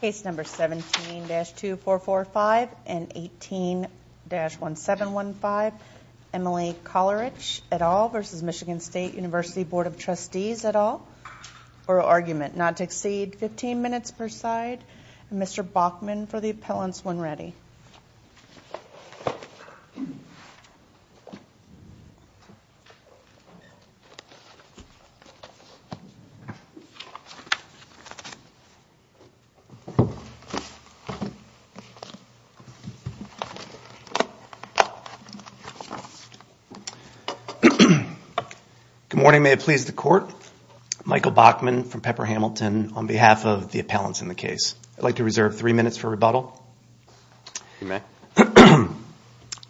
Case No. 17-2445 and 18-1715, Emily Kollaritsch et al. v. MI St Univ Bd of Trustees et al. for argument not to exceed 15 minutes per side. Mr. Bachman for the appellants when ready. Good morning, may it please the court. Michael Bachman from Pepper Hamilton on behalf of the appellants in the case. I'd like to reserve three minutes for rebuttal. You may.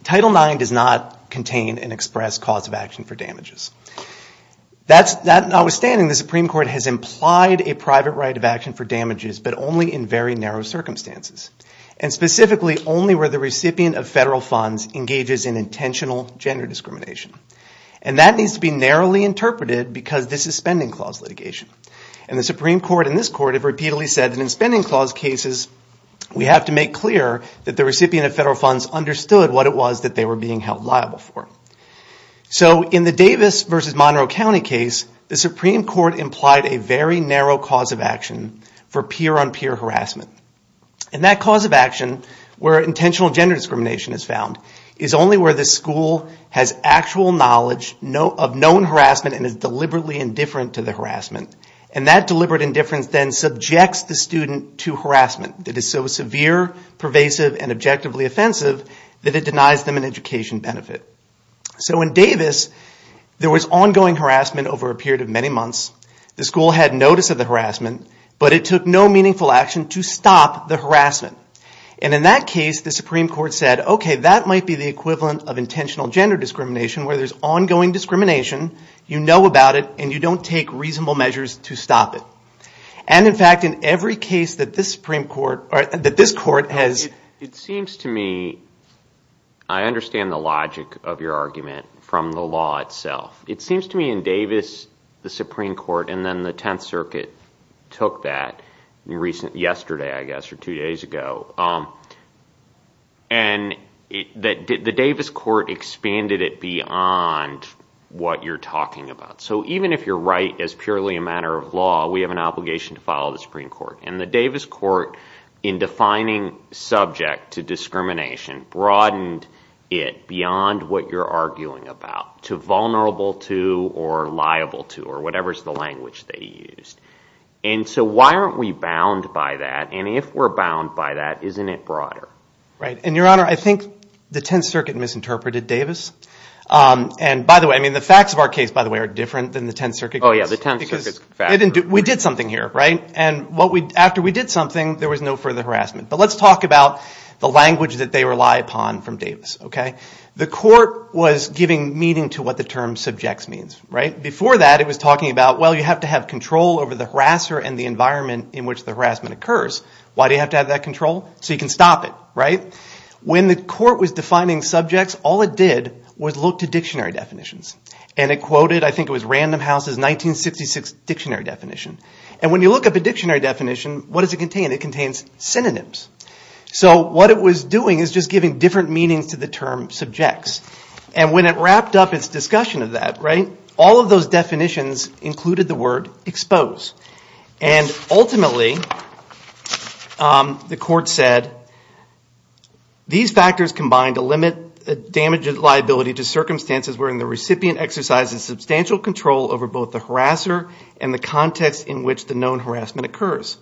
Title IX does not contain and express cause of action for damages. Notwithstanding, the Supreme Court has implied a private right of action for damages, but only in very narrow circumstances. And specifically, only where the recipient of federal funds engages in intentional gender discrimination. And that needs to be narrowly interpreted because this is spending clause litigation. And the Supreme Court and this Court have repeatedly said that in spending clause cases, we have to make clear that the recipient of federal funds understood what it was that they were being held liable for. So in the Davis v. Monroe County case, the Supreme Court implied a very narrow cause of action for peer-on-peer harassment. And that cause of action, where intentional gender discrimination is found, is only where the school has actual knowledge of known harassment and is deliberately indifferent to the harassment. And that deliberate indifference then subjects the student to harassment that is so severe, pervasive, and objectively offensive that it denies them an education benefit. So in Davis, there was ongoing harassment over a period of many months. The school had notice of the harassment, but it took no meaningful action to stop the harassment. And in that case, the Supreme Court said, okay, that might be the equivalent of intentional gender discrimination, where there's ongoing discrimination, you know about it, and you don't take reasonable measures to stop it. And in fact, in every case that this Supreme Court or that this court has- It seems to me, I understand the logic of your argument from the law itself. It seems to me in Davis, the Supreme Court and then the Tenth Circuit took that yesterday, I guess, or two days ago. And the Davis court expanded it beyond what you're talking about. So even if you're right as purely a matter of law, we have an obligation to follow the Supreme Court. And the Davis court, in defining subject to discrimination, broadened it beyond what you're arguing about, to vulnerable to or liable to or whatever is the language they used. And so why aren't we bound by that? And if we're bound by that, isn't it broader? Right. And, Your Honor, I think the Tenth Circuit misinterpreted Davis. And by the way, I mean, the facts of our case, by the way, are different than the Tenth Circuit. Oh, yeah, the Tenth Circuit's facts are different. We did something here, right? And after we did something, there was no further harassment. But let's talk about the language that they rely upon from Davis, okay? The court was giving meaning to what the term subjects means, right? Before that, it was talking about, well, you have to have control over the harasser and the environment in which the harassment occurs. Why do you have to have that control? So you can stop it, right? When the court was defining subjects, all it did was look to dictionary definitions. And it quoted, I think it was Random House's 1966 dictionary definition. And when you look up a dictionary definition, what does it contain? It contains synonyms. So what it was doing is just giving different meanings to the term subjects. And when it wrapped up its discussion of that, right, all of those definitions included the word expose. And ultimately, the court said, these factors combine to limit the damage liability to circumstances wherein the recipient exercises substantial control over both the harasser and the context in which the known harassment occurs.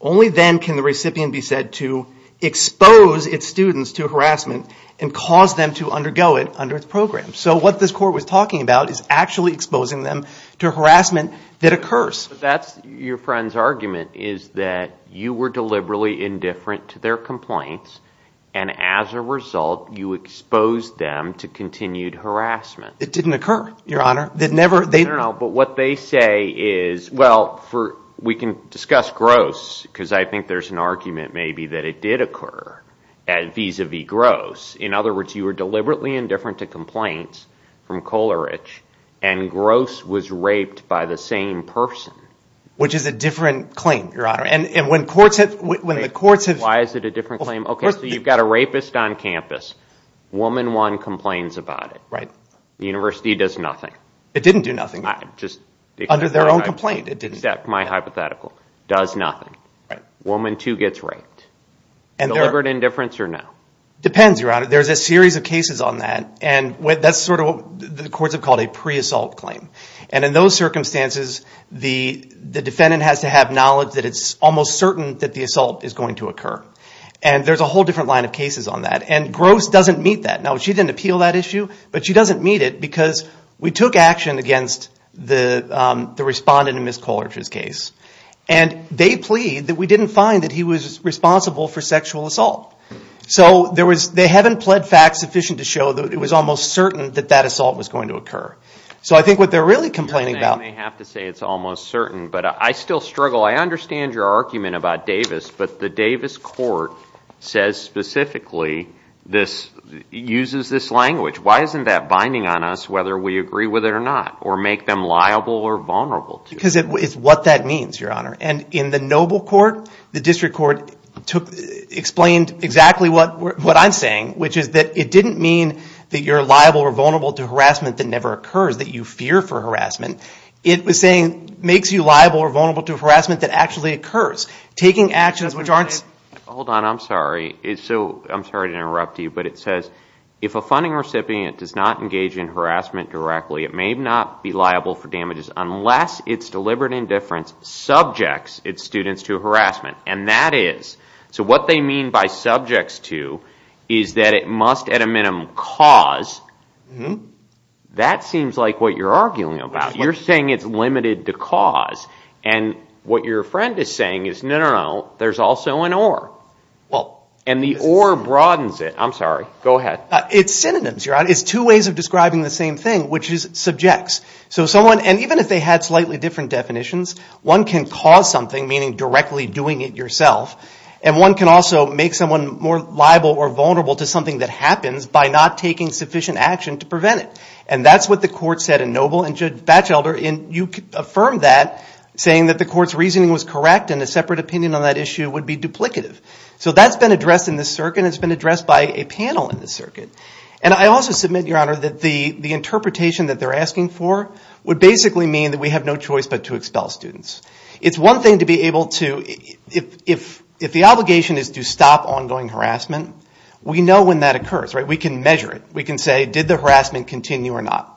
Only then can the recipient be said to expose its students to harassment and cause them to undergo it under its program. So what this court was talking about is actually exposing them to harassment that occurs. So that's your friend's argument, is that you were deliberately indifferent to their complaints. And as a result, you exposed them to continued harassment. It didn't occur, Your Honor. It never – I don't know. But what they say is, well, we can discuss Gross, because I think there's an argument maybe that it did occur vis-a-vis Gross. In other words, you were deliberately indifferent to complaints from Kolarich, and Gross was raped by the same person. Which is a different claim, Your Honor. And when courts have – Wait. Why is it a different claim? Okay, so you've got a rapist on campus. Woman one complains about it. Right. The university does nothing. It didn't do nothing. I'm just – Under their own complaint, it didn't. Except my hypothetical. Does nothing. Right. Woman two gets raped. Deliberate indifference or no? Depends, Your Honor. There's a series of cases on that, and that's sort of what the courts have called a pre-assault claim. And in those circumstances, the defendant has to have knowledge that it's almost certain that the assault is going to occur. And there's a whole different line of cases on that. And Gross doesn't meet that. Now, she didn't appeal that issue, but she doesn't meet it because we took action against the respondent in Ms. Kolarich's case. And they plead that we didn't find that he was responsible for sexual assault. So there was – they haven't pled facts sufficient to show that it was almost certain that that assault was going to occur. So I think what they're really complaining about – You may have to say it's almost certain, but I still struggle. I understand your argument about Davis, but the Davis court says specifically this – uses this language. Why isn't that binding on us whether we agree with it or not or make them liable or vulnerable to it? Because it's what that means, Your Honor. And in the Noble court, the district court explained exactly what I'm saying, which is that it didn't mean that you're liable or vulnerable to harassment that never occurs, that you fear for harassment. It was saying makes you liable or vulnerable to harassment that actually occurs. Taking actions which aren't – Hold on. I'm sorry. I'm sorry to interrupt you, but it says if a funding recipient does not engage in harassment directly, it may not be liable for damages unless it's deliberate indifference subjects its students to harassment, and that is – so what they mean by subjects to is that it must at a minimum cause. That seems like what you're arguing about. You're saying it's limited to cause, and what your friend is saying is no, no, no. There's also an or, and the or broadens it. I'm sorry. Go ahead. It's synonyms, Your Honor. It's two ways of describing the same thing, which is subjects. So someone – and even if they had slightly different definitions, one can cause something, meaning directly doing it yourself, and one can also make someone more liable or vulnerable to something that happens by not taking sufficient action to prevent it. And that's what the court said in Noble. And Judge Batchelder, you affirmed that, saying that the court's reasoning was correct and a separate opinion on that issue would be duplicative. So that's been addressed in this circuit, and it's been addressed by a panel in this circuit. And I also submit, Your Honor, that the interpretation that they're asking for would basically mean that we have no choice but to expel students. It's one thing to be able to – if the obligation is to stop ongoing harassment, we know when that occurs. We can measure it. We can say, did the harassment continue or not?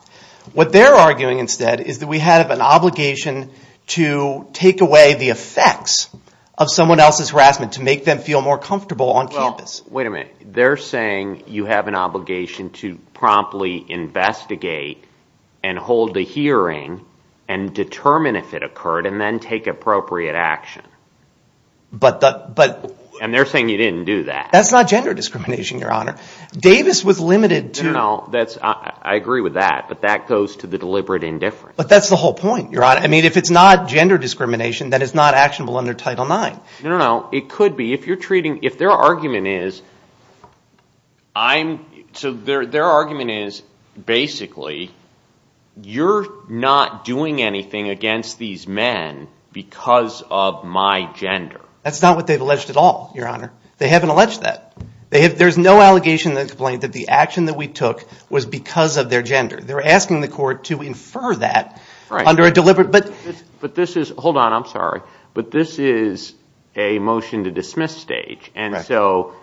What they're arguing instead is that we have an obligation to take away the effects of someone else's harassment to make them feel more comfortable on campus. Wait a minute. They're saying you have an obligation to promptly investigate and hold a hearing and determine if it occurred and then take appropriate action. And they're saying you didn't do that. That's not gender discrimination, Your Honor. Davis was limited to – No, no, no. I agree with that, but that goes to the deliberate indifference. But that's the whole point, Your Honor. I mean, if it's not gender discrimination, then it's not actionable under Title IX. No, no, no. It could be. If you're treating – if their argument is – so their argument is basically you're not doing anything against these men because of my gender. That's not what they've alleged at all, Your Honor. They haven't alleged that. There's no allegation that explained that the action that we took was because of their gender. They're asking the court to infer that under a deliberate – But this is – hold on. I'm sorry. But this is a motion to dismiss stage. And so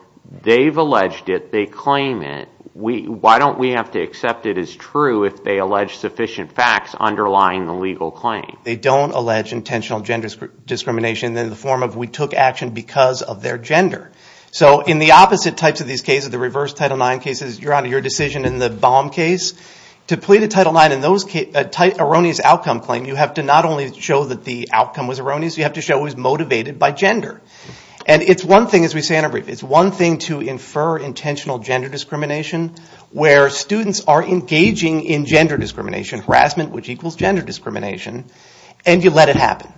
they've alleged it. They claim it. Why don't we have to accept it as true if they allege sufficient facts underlying the legal claim? They don't allege intentional gender discrimination in the form of we took action because of their gender. So in the opposite types of these cases, the reverse Title IX cases, Your Honor, your decision in the Baum case, to plead a Title IX in those – an erroneous outcome claim, you have to not only show that the outcome was erroneous, you have to show it was motivated by gender. And it's one thing, as we say in a brief, it's one thing to infer intentional gender discrimination where students are engaging in gender discrimination, harassment, which equals gender discrimination, and you let it happen.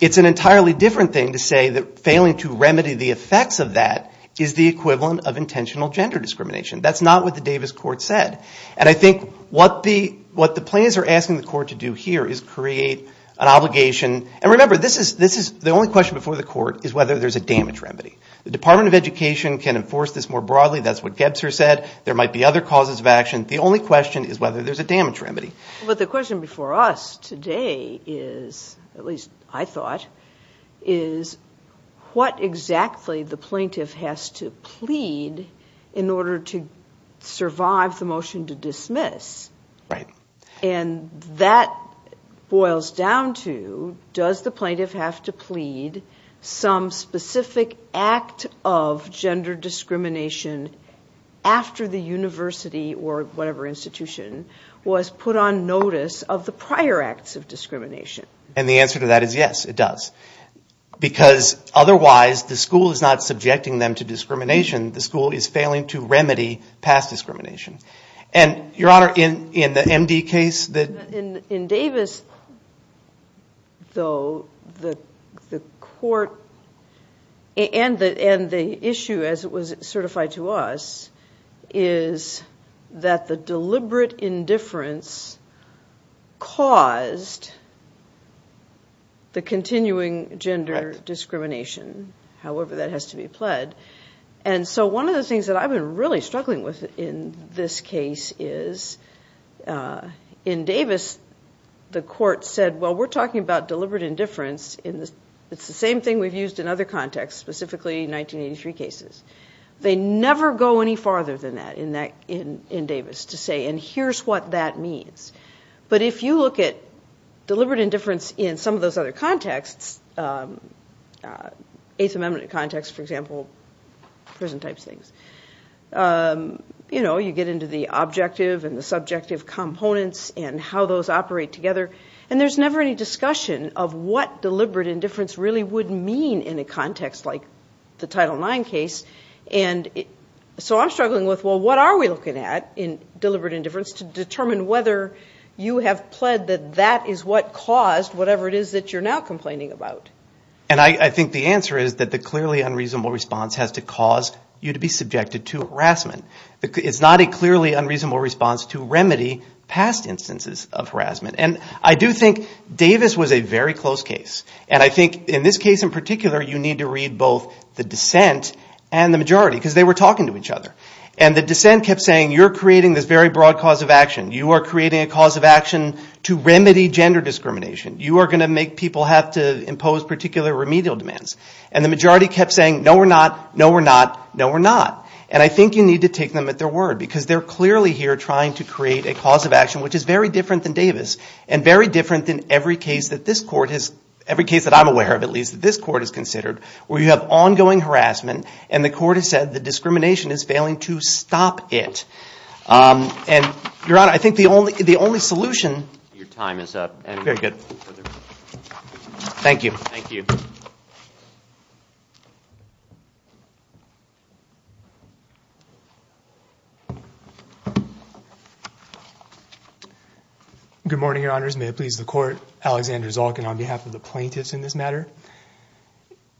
It's an entirely different thing to say that failing to remedy the effects of that is the equivalent of intentional gender discrimination. That's not what the Davis court said. And I think what the plaintiffs are asking the court to do here is create an obligation. And remember, this is – the only question before the court is whether there's a damage remedy. The Department of Education can enforce this more broadly. That's what Gebzer said. There might be other causes of action. The only question is whether there's a damage remedy. But the question before us today is, at least I thought, is what exactly the plaintiff has to plead in order to survive the motion to dismiss. Right. And that boils down to, does the plaintiff have to plead some specific act of gender discrimination after the university or whatever institution was put on notice of the prior acts of discrimination? And the answer to that is yes, it does. Because otherwise, the school is not subjecting them to discrimination. The school is failing to remedy past discrimination. And, Your Honor, in the MD case that – In Davis, though, the court – and the issue, as it was certified to us, is that the deliberate indifference caused the continuing gender discrimination. However, that has to be pled. And so one of the things that I've been really struggling with in this case is, in Davis, the court said, well, we're talking about deliberate indifference. It's the same thing we've used in other contexts, specifically 1983 cases. They never go any farther than that in Davis to say, and here's what that means. But if you look at deliberate indifference in some of those other contexts, Eighth Amendment context, for example, prison-type things, you know, you get into the objective and the subjective components and how those operate together, and there's never any discussion of what deliberate indifference really would mean in a context like the Title IX case. And so I'm struggling with, well, what are we looking at in deliberate indifference to determine whether you have pled that that is what caused whatever it is that you're now complaining about? And I think the answer is that the clearly unreasonable response has to cause you to be subjected to harassment. It's not a clearly unreasonable response to remedy past instances of harassment. And I do think Davis was a very close case. And I think in this case in particular, you need to read both the dissent and the majority, because they were talking to each other. And the dissent kept saying, you're creating this very broad cause of action. You are creating a cause of action to remedy gender discrimination. You are going to make people have to impose particular remedial demands. And the majority kept saying, no, we're not, no, we're not, no, we're not. And I think you need to take them at their word, because they're clearly here trying to create a cause of action which is very different than Davis and very different than every case that this court has, every case that I'm aware of, at least, that this court has considered, where you have ongoing harassment and the court has said the discrimination is failing to stop it. And, Your Honor, I think the only solution. Your time is up. Thank you. Good morning, Your Honors. May it please the court. Alexander Zalkin on behalf of the plaintiffs in this matter.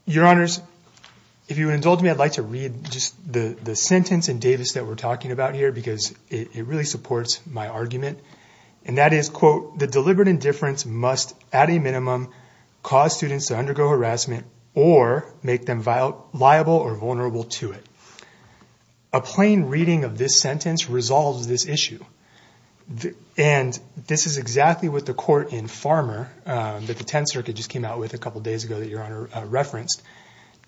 Your Honors, if you would indulge me, I'd like to read just the sentence in Davis that we're talking about here because it really supports my argument. And that is, quote, the deliberate indifference must at a minimum cause students to undergo harassment or make them liable or vulnerable to it. A plain reading of this sentence resolves this issue. And this is exactly what the court in Farmer that the Tenth Circuit just came out with a couple days ago that Your Honor referenced.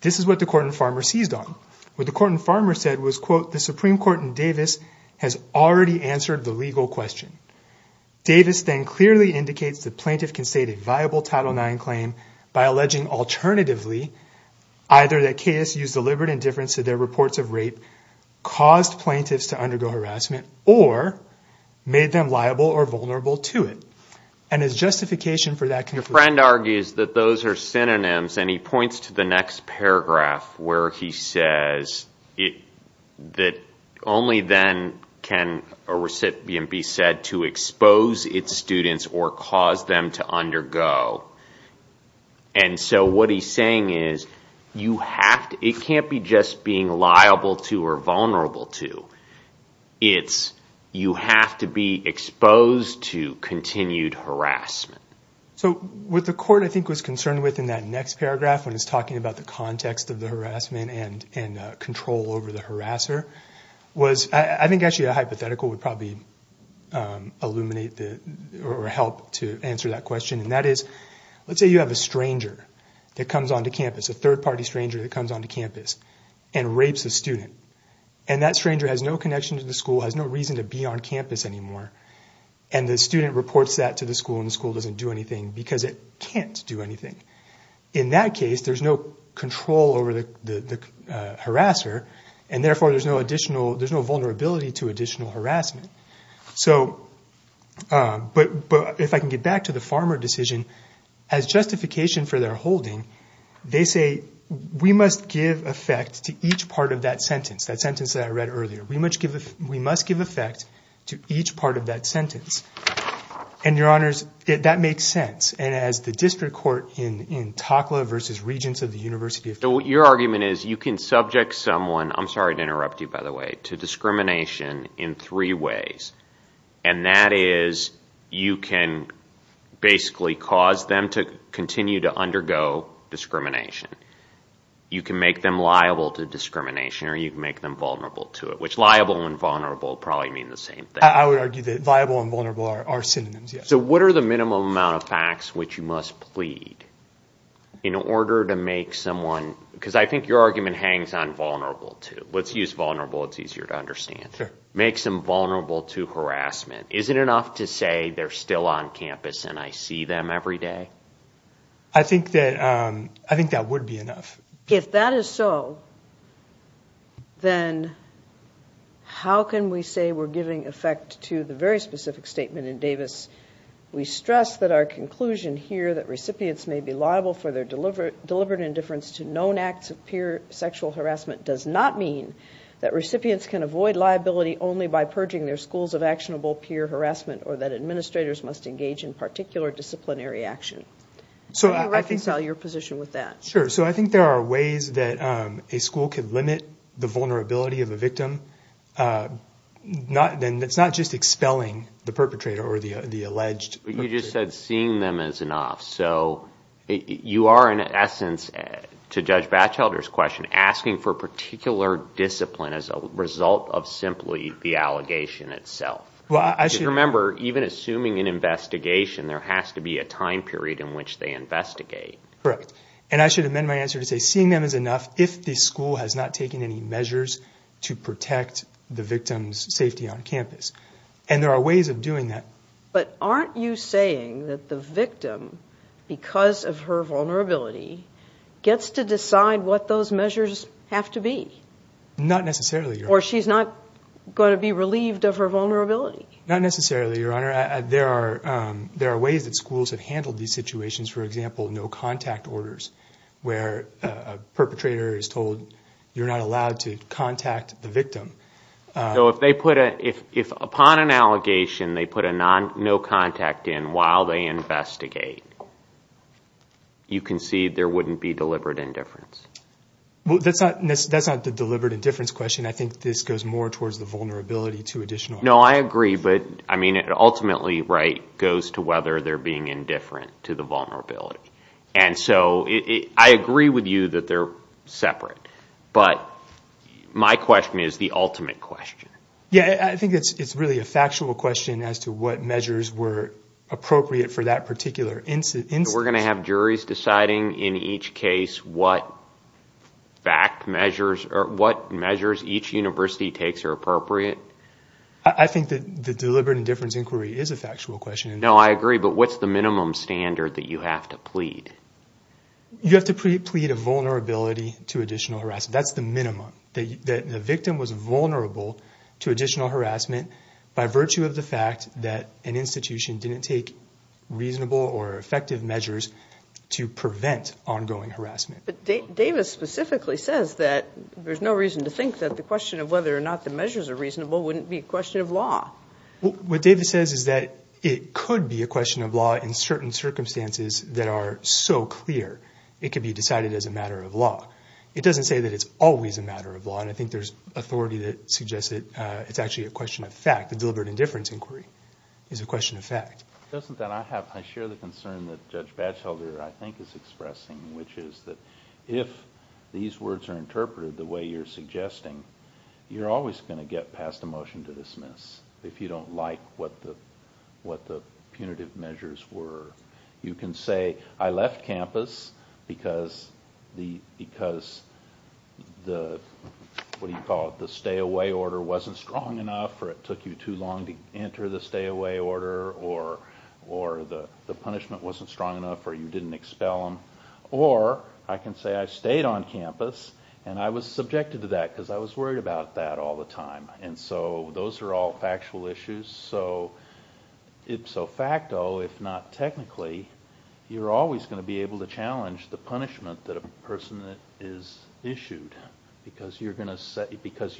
This is what the court in Farmer seized on. What the court in Farmer said was, quote, the Supreme Court in Davis has already answered the legal question. Davis then clearly indicates the plaintiff can state a viable Title IX claim by alleging alternatively either that KS used deliberate indifference to their reports of rape, caused plaintiffs to undergo harassment, or made them liable or vulnerable to it. And as justification for that conclusion. Your friend argues that those are synonyms. And he points to the next paragraph where he says that only then can a recipient be said to expose its students or cause them to undergo. And so what he's saying is you have to. It can't be just being liable to or vulnerable to. It's you have to be exposed to continued harassment. So what the court, I think, was concerned with in that next paragraph, when it's talking about the context of the harassment and control over the harasser, was I think actually a hypothetical would probably illuminate or help to answer that question. And that is, let's say you have a stranger that comes onto campus, a third party stranger that comes onto campus and rapes a student. And that stranger has no connection to the school, has no reason to be on campus anymore. And the student reports that to the school and the school doesn't do anything because it can't do anything. In that case, there's no control over the harasser. And therefore, there's no additional there's no vulnerability to additional harassment. So but if I can get back to the farmer decision as justification for their holding, they say we must give effect to each part of that sentence, that sentence that I read earlier. We must give we must give effect to each part of that sentence. And your honors, that makes sense. And as the district court in Takla versus Regents of the University of. So your argument is you can subject someone. I'm sorry to interrupt you, by the way, to discrimination in three ways. And that is you can basically cause them to continue to undergo discrimination. You can make them liable to discrimination or you can make them vulnerable to it, which liable and vulnerable probably mean the same thing. I would argue that viable and vulnerable are synonyms. So what are the minimum amount of facts which you must plead in order to make someone? Because I think your argument hangs on vulnerable to let's use vulnerable. It's easier to understand. Make some vulnerable to harassment. Is it enough to say they're still on campus and I see them every day? I think that I think that would be enough. If that is so. Then how can we say we're giving effect to the very specific statement in Davis? We stress that our conclusion here that recipients may be liable for their deliberate deliberate indifference to known acts of peer sexual harassment does not mean that recipients can avoid liability only by purging their schools of actionable peer harassment or that administrators must engage in particular disciplinary action. So I think your position with that. Sure. So I think there are ways that a school can limit the vulnerability of a victim. Not then. It's not just expelling the perpetrator or the alleged. You just said seeing them as an off. So you are in essence to judge Batchelder's question asking for particular discipline as a result of simply the allegation itself. Well, I should remember, even assuming an investigation, there has to be a time period in which they investigate. Correct. And I should amend my answer to say seeing them is enough if the school has not taken any measures to protect the victim's safety on campus. And there are ways of doing that. But aren't you saying that the victim, because of her vulnerability, gets to decide what those measures have to be? Not necessarily. Or she's not going to be relieved of her vulnerability. Not necessarily, Your Honor. There are ways that schools have handled these situations. For example, no contact orders where a perpetrator is told you're not allowed to contact the victim. So if upon an allegation they put a no contact in while they investigate, you concede there wouldn't be deliberate indifference. Well, that's not the deliberate indifference question. I think this goes more towards the vulnerability to additional harm. No, I agree. But, I mean, ultimately, Wright goes to whether they're being indifferent to the vulnerability. And so I agree with you that they're separate. But my question is the ultimate question. Yeah, I think it's really a factual question as to what measures were appropriate for that particular instance. So we're going to have juries deciding in each case what measures each university takes are appropriate? I think that the deliberate indifference inquiry is a factual question. No, I agree. But what's the minimum standard that you have to plead? You have to plead a vulnerability to additional harassment. That's the minimum. The victim was vulnerable to additional harassment by virtue of the fact that an institution didn't take reasonable or effective measures to prevent ongoing harassment. But Davis specifically says that there's no reason to think that the question of whether or not the measures are reasonable wouldn't be a question of law. What Davis says is that it could be a question of law in certain circumstances that are so clear it could be decided as a matter of law. It doesn't say that it's always a matter of law, and I think there's authority that suggests it's actually a question of fact. The deliberate indifference inquiry is a question of fact. Doesn't that – I share the concern that Judge Batchelder, I think, is expressing, which is that if these words are interpreted the way you're suggesting, you're always going to get passed a motion to dismiss if you don't like what the punitive measures were. You can say, I left campus because the stay-away order wasn't strong enough, or it took you too long to enter the stay-away order, or the punishment wasn't strong enough, or you didn't expel them. Or I can say I stayed on campus and I was subjected to that because I was worried about that all the time. And so those are all factual issues. So, ipso facto, if not technically, you're always going to be able to challenge the punishment that a person is issued, because you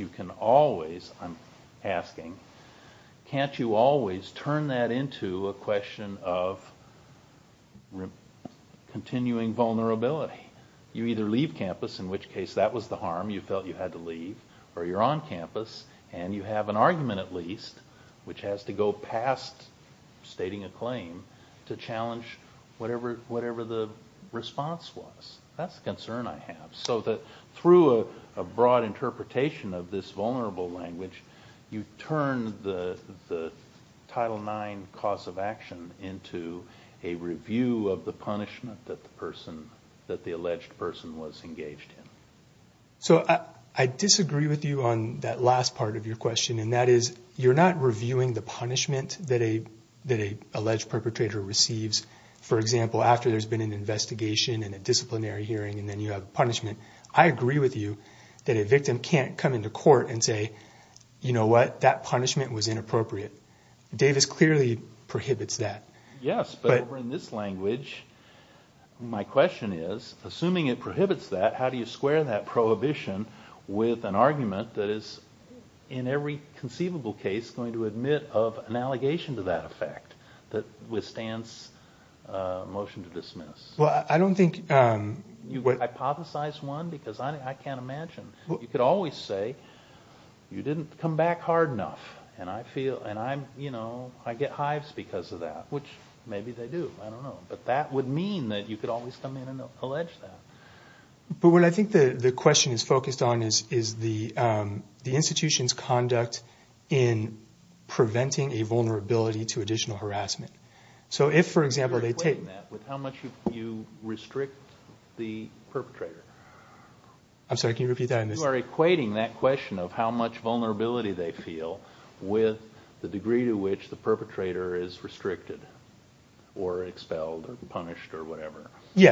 can always – I'm asking – can't you always turn that into a question of continuing vulnerability? You either leave campus, in which case that was the harm, you felt you had to leave, or you're on campus and you have an argument at least, which has to go past stating a claim to challenge whatever the response was. That's the concern I have. So through a broad interpretation of this vulnerable language, you turn the Title IX cause of action into a review of the punishment that the alleged person was engaged in. So I disagree with you on that last part of your question, and that is you're not reviewing the punishment that an alleged perpetrator receives. For example, after there's been an investigation and a disciplinary hearing and then you have punishment, I agree with you that a victim can't come into court and say, you know what, that punishment was inappropriate. Davis clearly prohibits that. Yes, but over in this language, my question is, assuming it prohibits that, how do you square that prohibition with an argument that is, in every conceivable case, going to admit of an allegation to that effect that withstands a motion to dismiss? Well, I don't think... You hypothesize one, because I can't imagine. You could always say, you didn't come back hard enough, and I get hives because of that, which maybe they do, I don't know. But that would mean that you could always come in and allege that. But what I think the question is focused on is the institution's conduct in preventing a vulnerability to additional harassment. So if, for example, they take... You're equating that with how much you restrict the perpetrator. I'm sorry, can you repeat that? You are equating that question of how much vulnerability they feel with the degree to which the perpetrator is restricted or expelled or punished or whatever. They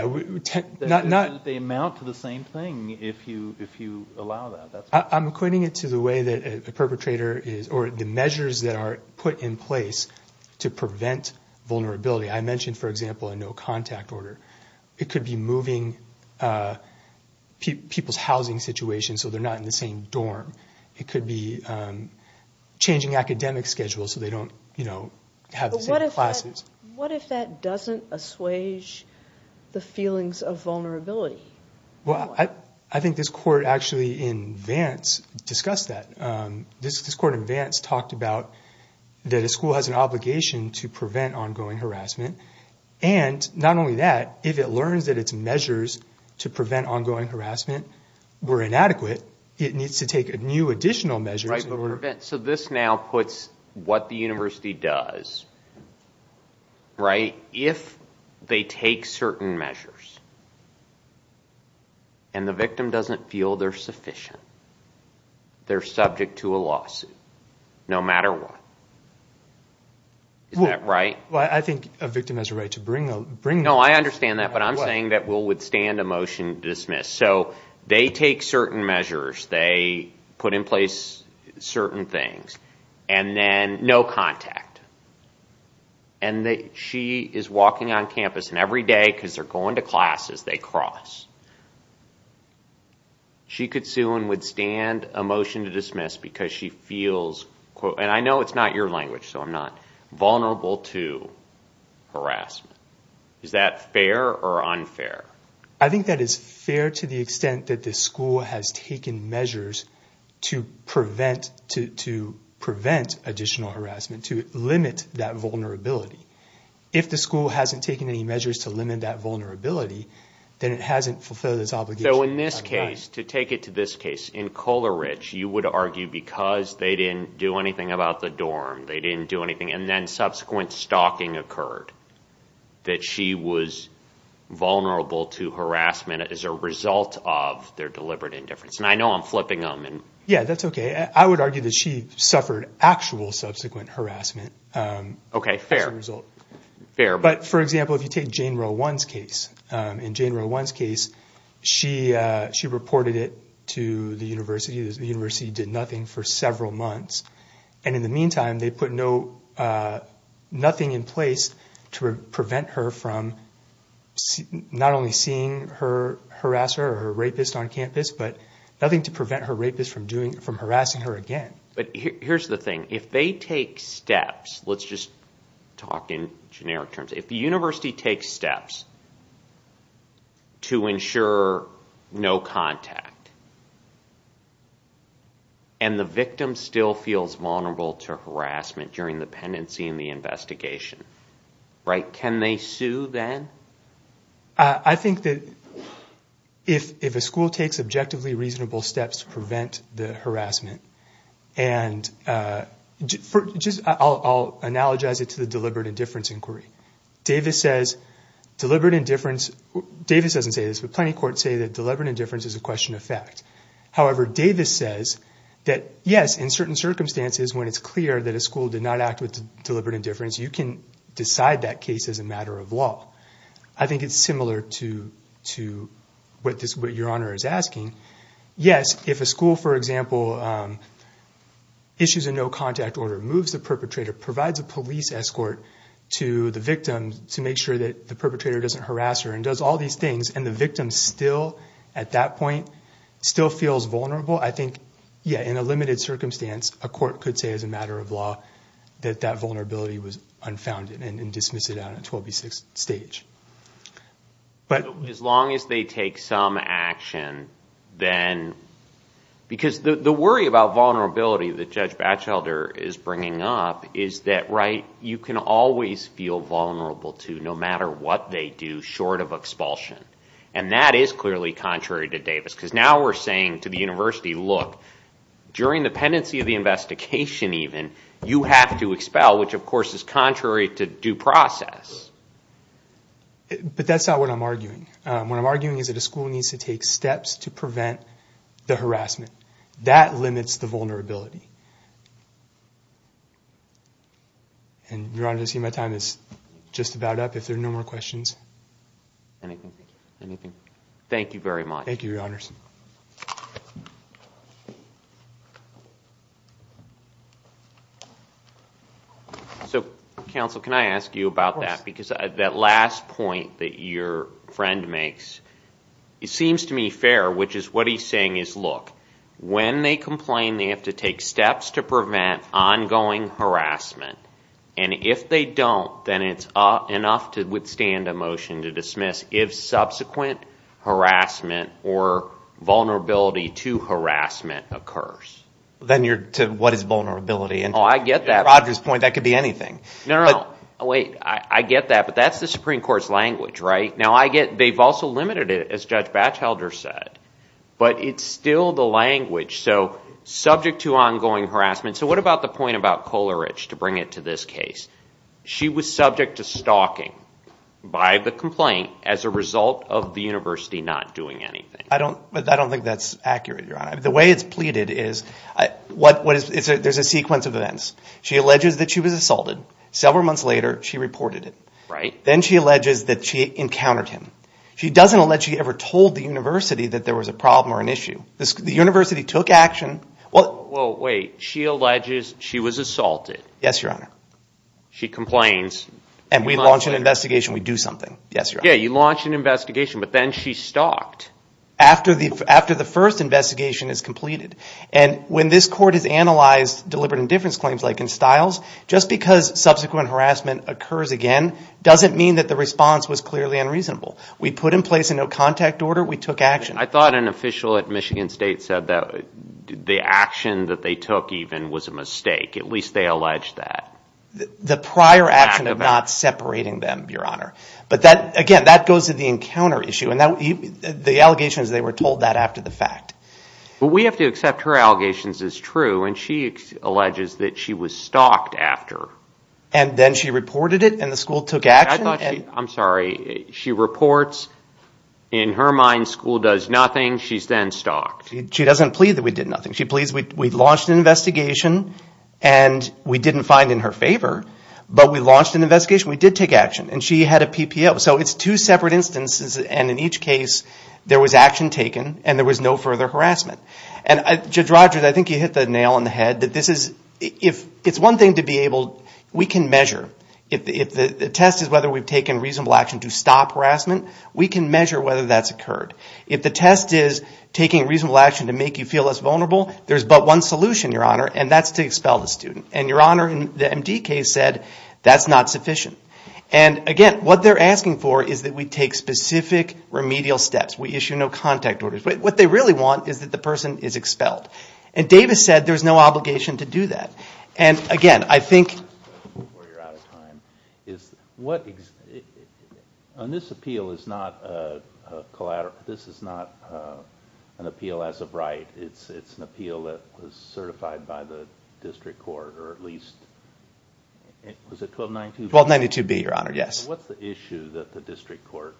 amount to the same thing if you allow that. I'm equating it to the way that a perpetrator is, or the measures that are put in place to prevent vulnerability. I mentioned, for example, a no-contact order. It could be moving people's housing situation so they're not in the same dorm. It could be changing academic schedules so they don't have the same classes. What if that doesn't assuage the feelings of vulnerability? Well, I think this court actually in Vance discussed that. This court in Vance talked about that a school has an obligation to prevent ongoing harassment. And not only that, if it learns that its measures to prevent ongoing harassment were inadequate, it needs to take new additional measures. So this now puts what the university does, right? If they take certain measures and the victim doesn't feel they're sufficient, they're subject to a lawsuit, no matter what. Is that right? I think a victim has a right to bring them. No, I understand that, but I'm saying that we'll withstand a motion to dismiss. So they take certain measures, they put in place certain things, and then no contact. And she is walking on campus, and every day, because they're going to classes, they cross. She could sue and withstand a motion to dismiss because she feels, and I know it's not your language, so I'm not vulnerable to harassment. Is that fair or unfair? I think that is fair to the extent that the school has taken measures to prevent additional harassment, to limit that vulnerability. If the school hasn't taken any measures to limit that vulnerability, then it hasn't fulfilled its obligation. So in this case, to take it to this case, in Coleridge, you would argue because they didn't do anything about the dorm, they didn't do anything, and then subsequent stalking occurred, that she was vulnerable to harassment as a result of their deliberate indifference. And I know I'm flipping them. Yeah, that's okay. I would argue that she suffered actual subsequent harassment as a result. Okay, fair. Fair. But, for example, if you take Jane Rowan's case, in Jane Rowan's case, she reported it to the university. The university did nothing for several months. And in the meantime, they put nothing in place to prevent her from not only seeing her harass her or her rapist on campus, but nothing to prevent her rapist from harassing her again. But here's the thing. If they take steps, let's just talk in generic terms. If the university takes steps to ensure no contact, and the victim still feels vulnerable to harassment during the pendency and the investigation, can they sue then? I think that if a school takes objectively reasonable steps to prevent the harassment, and I'll analogize it to the deliberate indifference inquiry. Davis doesn't say this, but plenty of courts say that deliberate indifference is a question of fact. However, Davis says that, yes, in certain circumstances, when it's clear that a school did not act with deliberate indifference, you can decide that case as a matter of law. I think it's similar to what Your Honor is asking. Yes, if a school, for example, issues a no-contact order, moves the perpetrator, provides a police escort to the victim to make sure that the perpetrator doesn't harass her, and does all these things, and the victim still, at that point, still feels vulnerable, I think, yes, in a limited circumstance, a court could say, as a matter of law, that that vulnerability was unfounded and dismiss it out at 12B6 stage. As long as they take some action, then, because the worry about vulnerability that Judge Batchelder is bringing up is that, right, you can always feel vulnerable to, no matter what they do, short of expulsion. And that is clearly contrary to Davis, because now we're saying to the university, look, during the pendency of the investigation, even, you have to expel, which, of course, is contrary to due process. But that's not what I'm arguing. What I'm arguing is that a school needs to take steps to prevent the harassment. That limits the vulnerability. And, Your Honor, I see my time is just about up. If there are no more questions. Anything? Anything? Thank you very much. Thank you, Your Honors. So, Counsel, can I ask you about that? Of course. Because that last point that your friend makes, it seems to me fair, which is what he's saying is, look, when they complain, they have to take steps to prevent ongoing harassment. And if they don't, then it's enough to withstand a motion to dismiss if subsequent harassment or vulnerability to harassment occurs. Then you're to what is vulnerability? Oh, I get that. At Roger's point, that could be anything. No, no, no. Wait, I get that. But that's the Supreme Court's language, right? Now, I get they've also limited it, as Judge Batchelder said. But it's still the language. So subject to ongoing harassment. So what about the point about Kohlerich to bring it to this case? She was subject to stalking by the complaint as a result of the university not doing anything. I don't think that's accurate, Your Honor. The way it's pleaded is there's a sequence of events. She alleges that she was assaulted. Several months later, she reported it. Right. Then she alleges that she encountered him. She doesn't allege she ever told the university that there was a problem or an issue. The university took action. Well, wait. She alleges she was assaulted. Yes, Your Honor. She complains. And we launch an investigation. We do something. Yes, Your Honor. Yeah, you launch an investigation. But then she stalked. After the first investigation is completed. And when this court has analyzed deliberate indifference claims like in Stiles, just because subsequent harassment occurs again doesn't mean that the response was clearly unreasonable. We put in place a no-contact order. We took action. I thought an official at Michigan State said that the action that they took even was a mistake. At least they alleged that. The prior action of not separating them, Your Honor. But again, that goes to the encounter issue. And the allegations, they were told that after the fact. But we have to accept her allegations as true. And she alleges that she was stalked after. And then she reported it. And the school took action. I'm sorry. She reports. In her mind, school does nothing. She's then stalked. She doesn't plead that we did nothing. She pleads we launched an investigation. And we didn't find in her favor. But we launched an investigation. We did take action. And she had a PPO. So it's two separate instances. And in each case, there was action taken. And there was no further harassment. And, Judge Rogers, I think you hit the nail on the head that this is, if, it's one thing to be able, we can measure. If the test is whether we've taken reasonable action to stop harassment, we can measure whether that's occurred. If the test is taking reasonable action to make you feel less vulnerable, there's but one solution, Your Honor, and that's to expel the student. And, Your Honor, the MD case said that's not sufficient. And, again, what they're asking for is that we take specific remedial steps. We issue no contact orders. What they really want is that the person is expelled. And Davis said there's no obligation to do that. And, again, I think. Before you're out of time, on this appeal, this is not an appeal as of right. It's an appeal that was certified by the district court, or at least, was it 1292B? 1292B, Your Honor, yes. What's the issue that the district court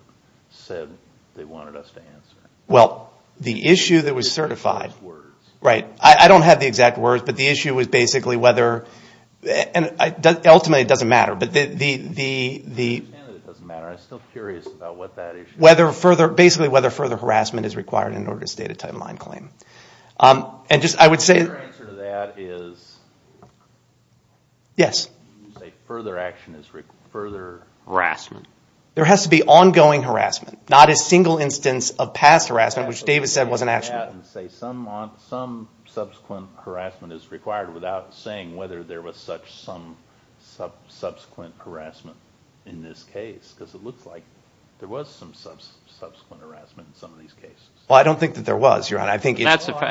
said they wanted us to answer? Well, the issue that was certified. The exact words. Right. I don't have the exact words, but the issue was basically whether. Ultimately, it doesn't matter, but the. I understand that it doesn't matter. I'm still curious about what that issue is. Basically whether further harassment is required in order to state a timeline claim. Your answer to that is. Yes. You say further action is further harassment. There has to be ongoing harassment. Not a single instance of past harassment, which Davis said wasn't actionable. You can't go out and say some subsequent harassment is required without saying whether there was such some subsequent harassment in this case. Because it looks like there was some subsequent harassment in some of these cases. Well, I don't think that there was, Your Honor. I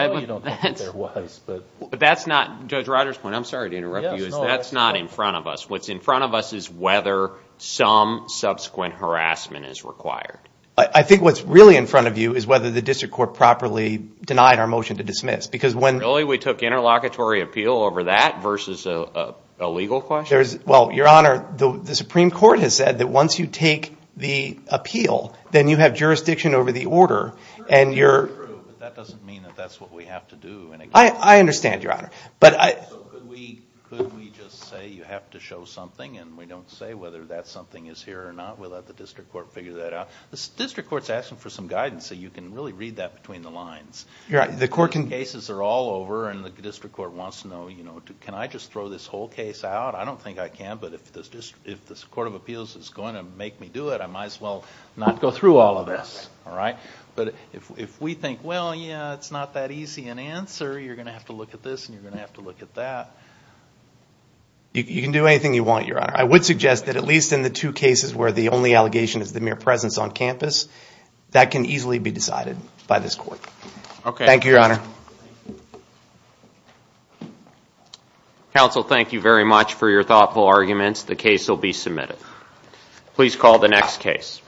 know you don't think that there was. But that's not Judge Rogers' point. I'm sorry to interrupt you. That's not in front of us. What's in front of us is whether some subsequent harassment is required. I think what's really in front of you is whether the District Court properly denied our motion to dismiss. Really? We took interlocutory appeal over that versus a legal question? Well, Your Honor, the Supreme Court has said that once you take the appeal, then you have jurisdiction over the order. That doesn't mean that that's what we have to do. I understand, Your Honor. Could we just say you have to show something and we don't say whether that something is here or not? We'll let the District Court figure that out. The District Court is asking for some guidance so you can really read that between the lines. The cases are all over and the District Court wants to know, can I just throw this whole case out? I don't think I can, but if the Court of Appeals is going to make me do it, I might as well not go through all of this. But if we think, well, yeah, it's not that easy an answer, you're going to have to look at this and you're going to have to look at that. I would suggest that at least in the two cases where the only allegation is the mere presence on campus, that can easily be decided by this Court. Thank you, Your Honor. Counsel, thank you very much for your thoughtful arguments. The case will be submitted. Please call the next case.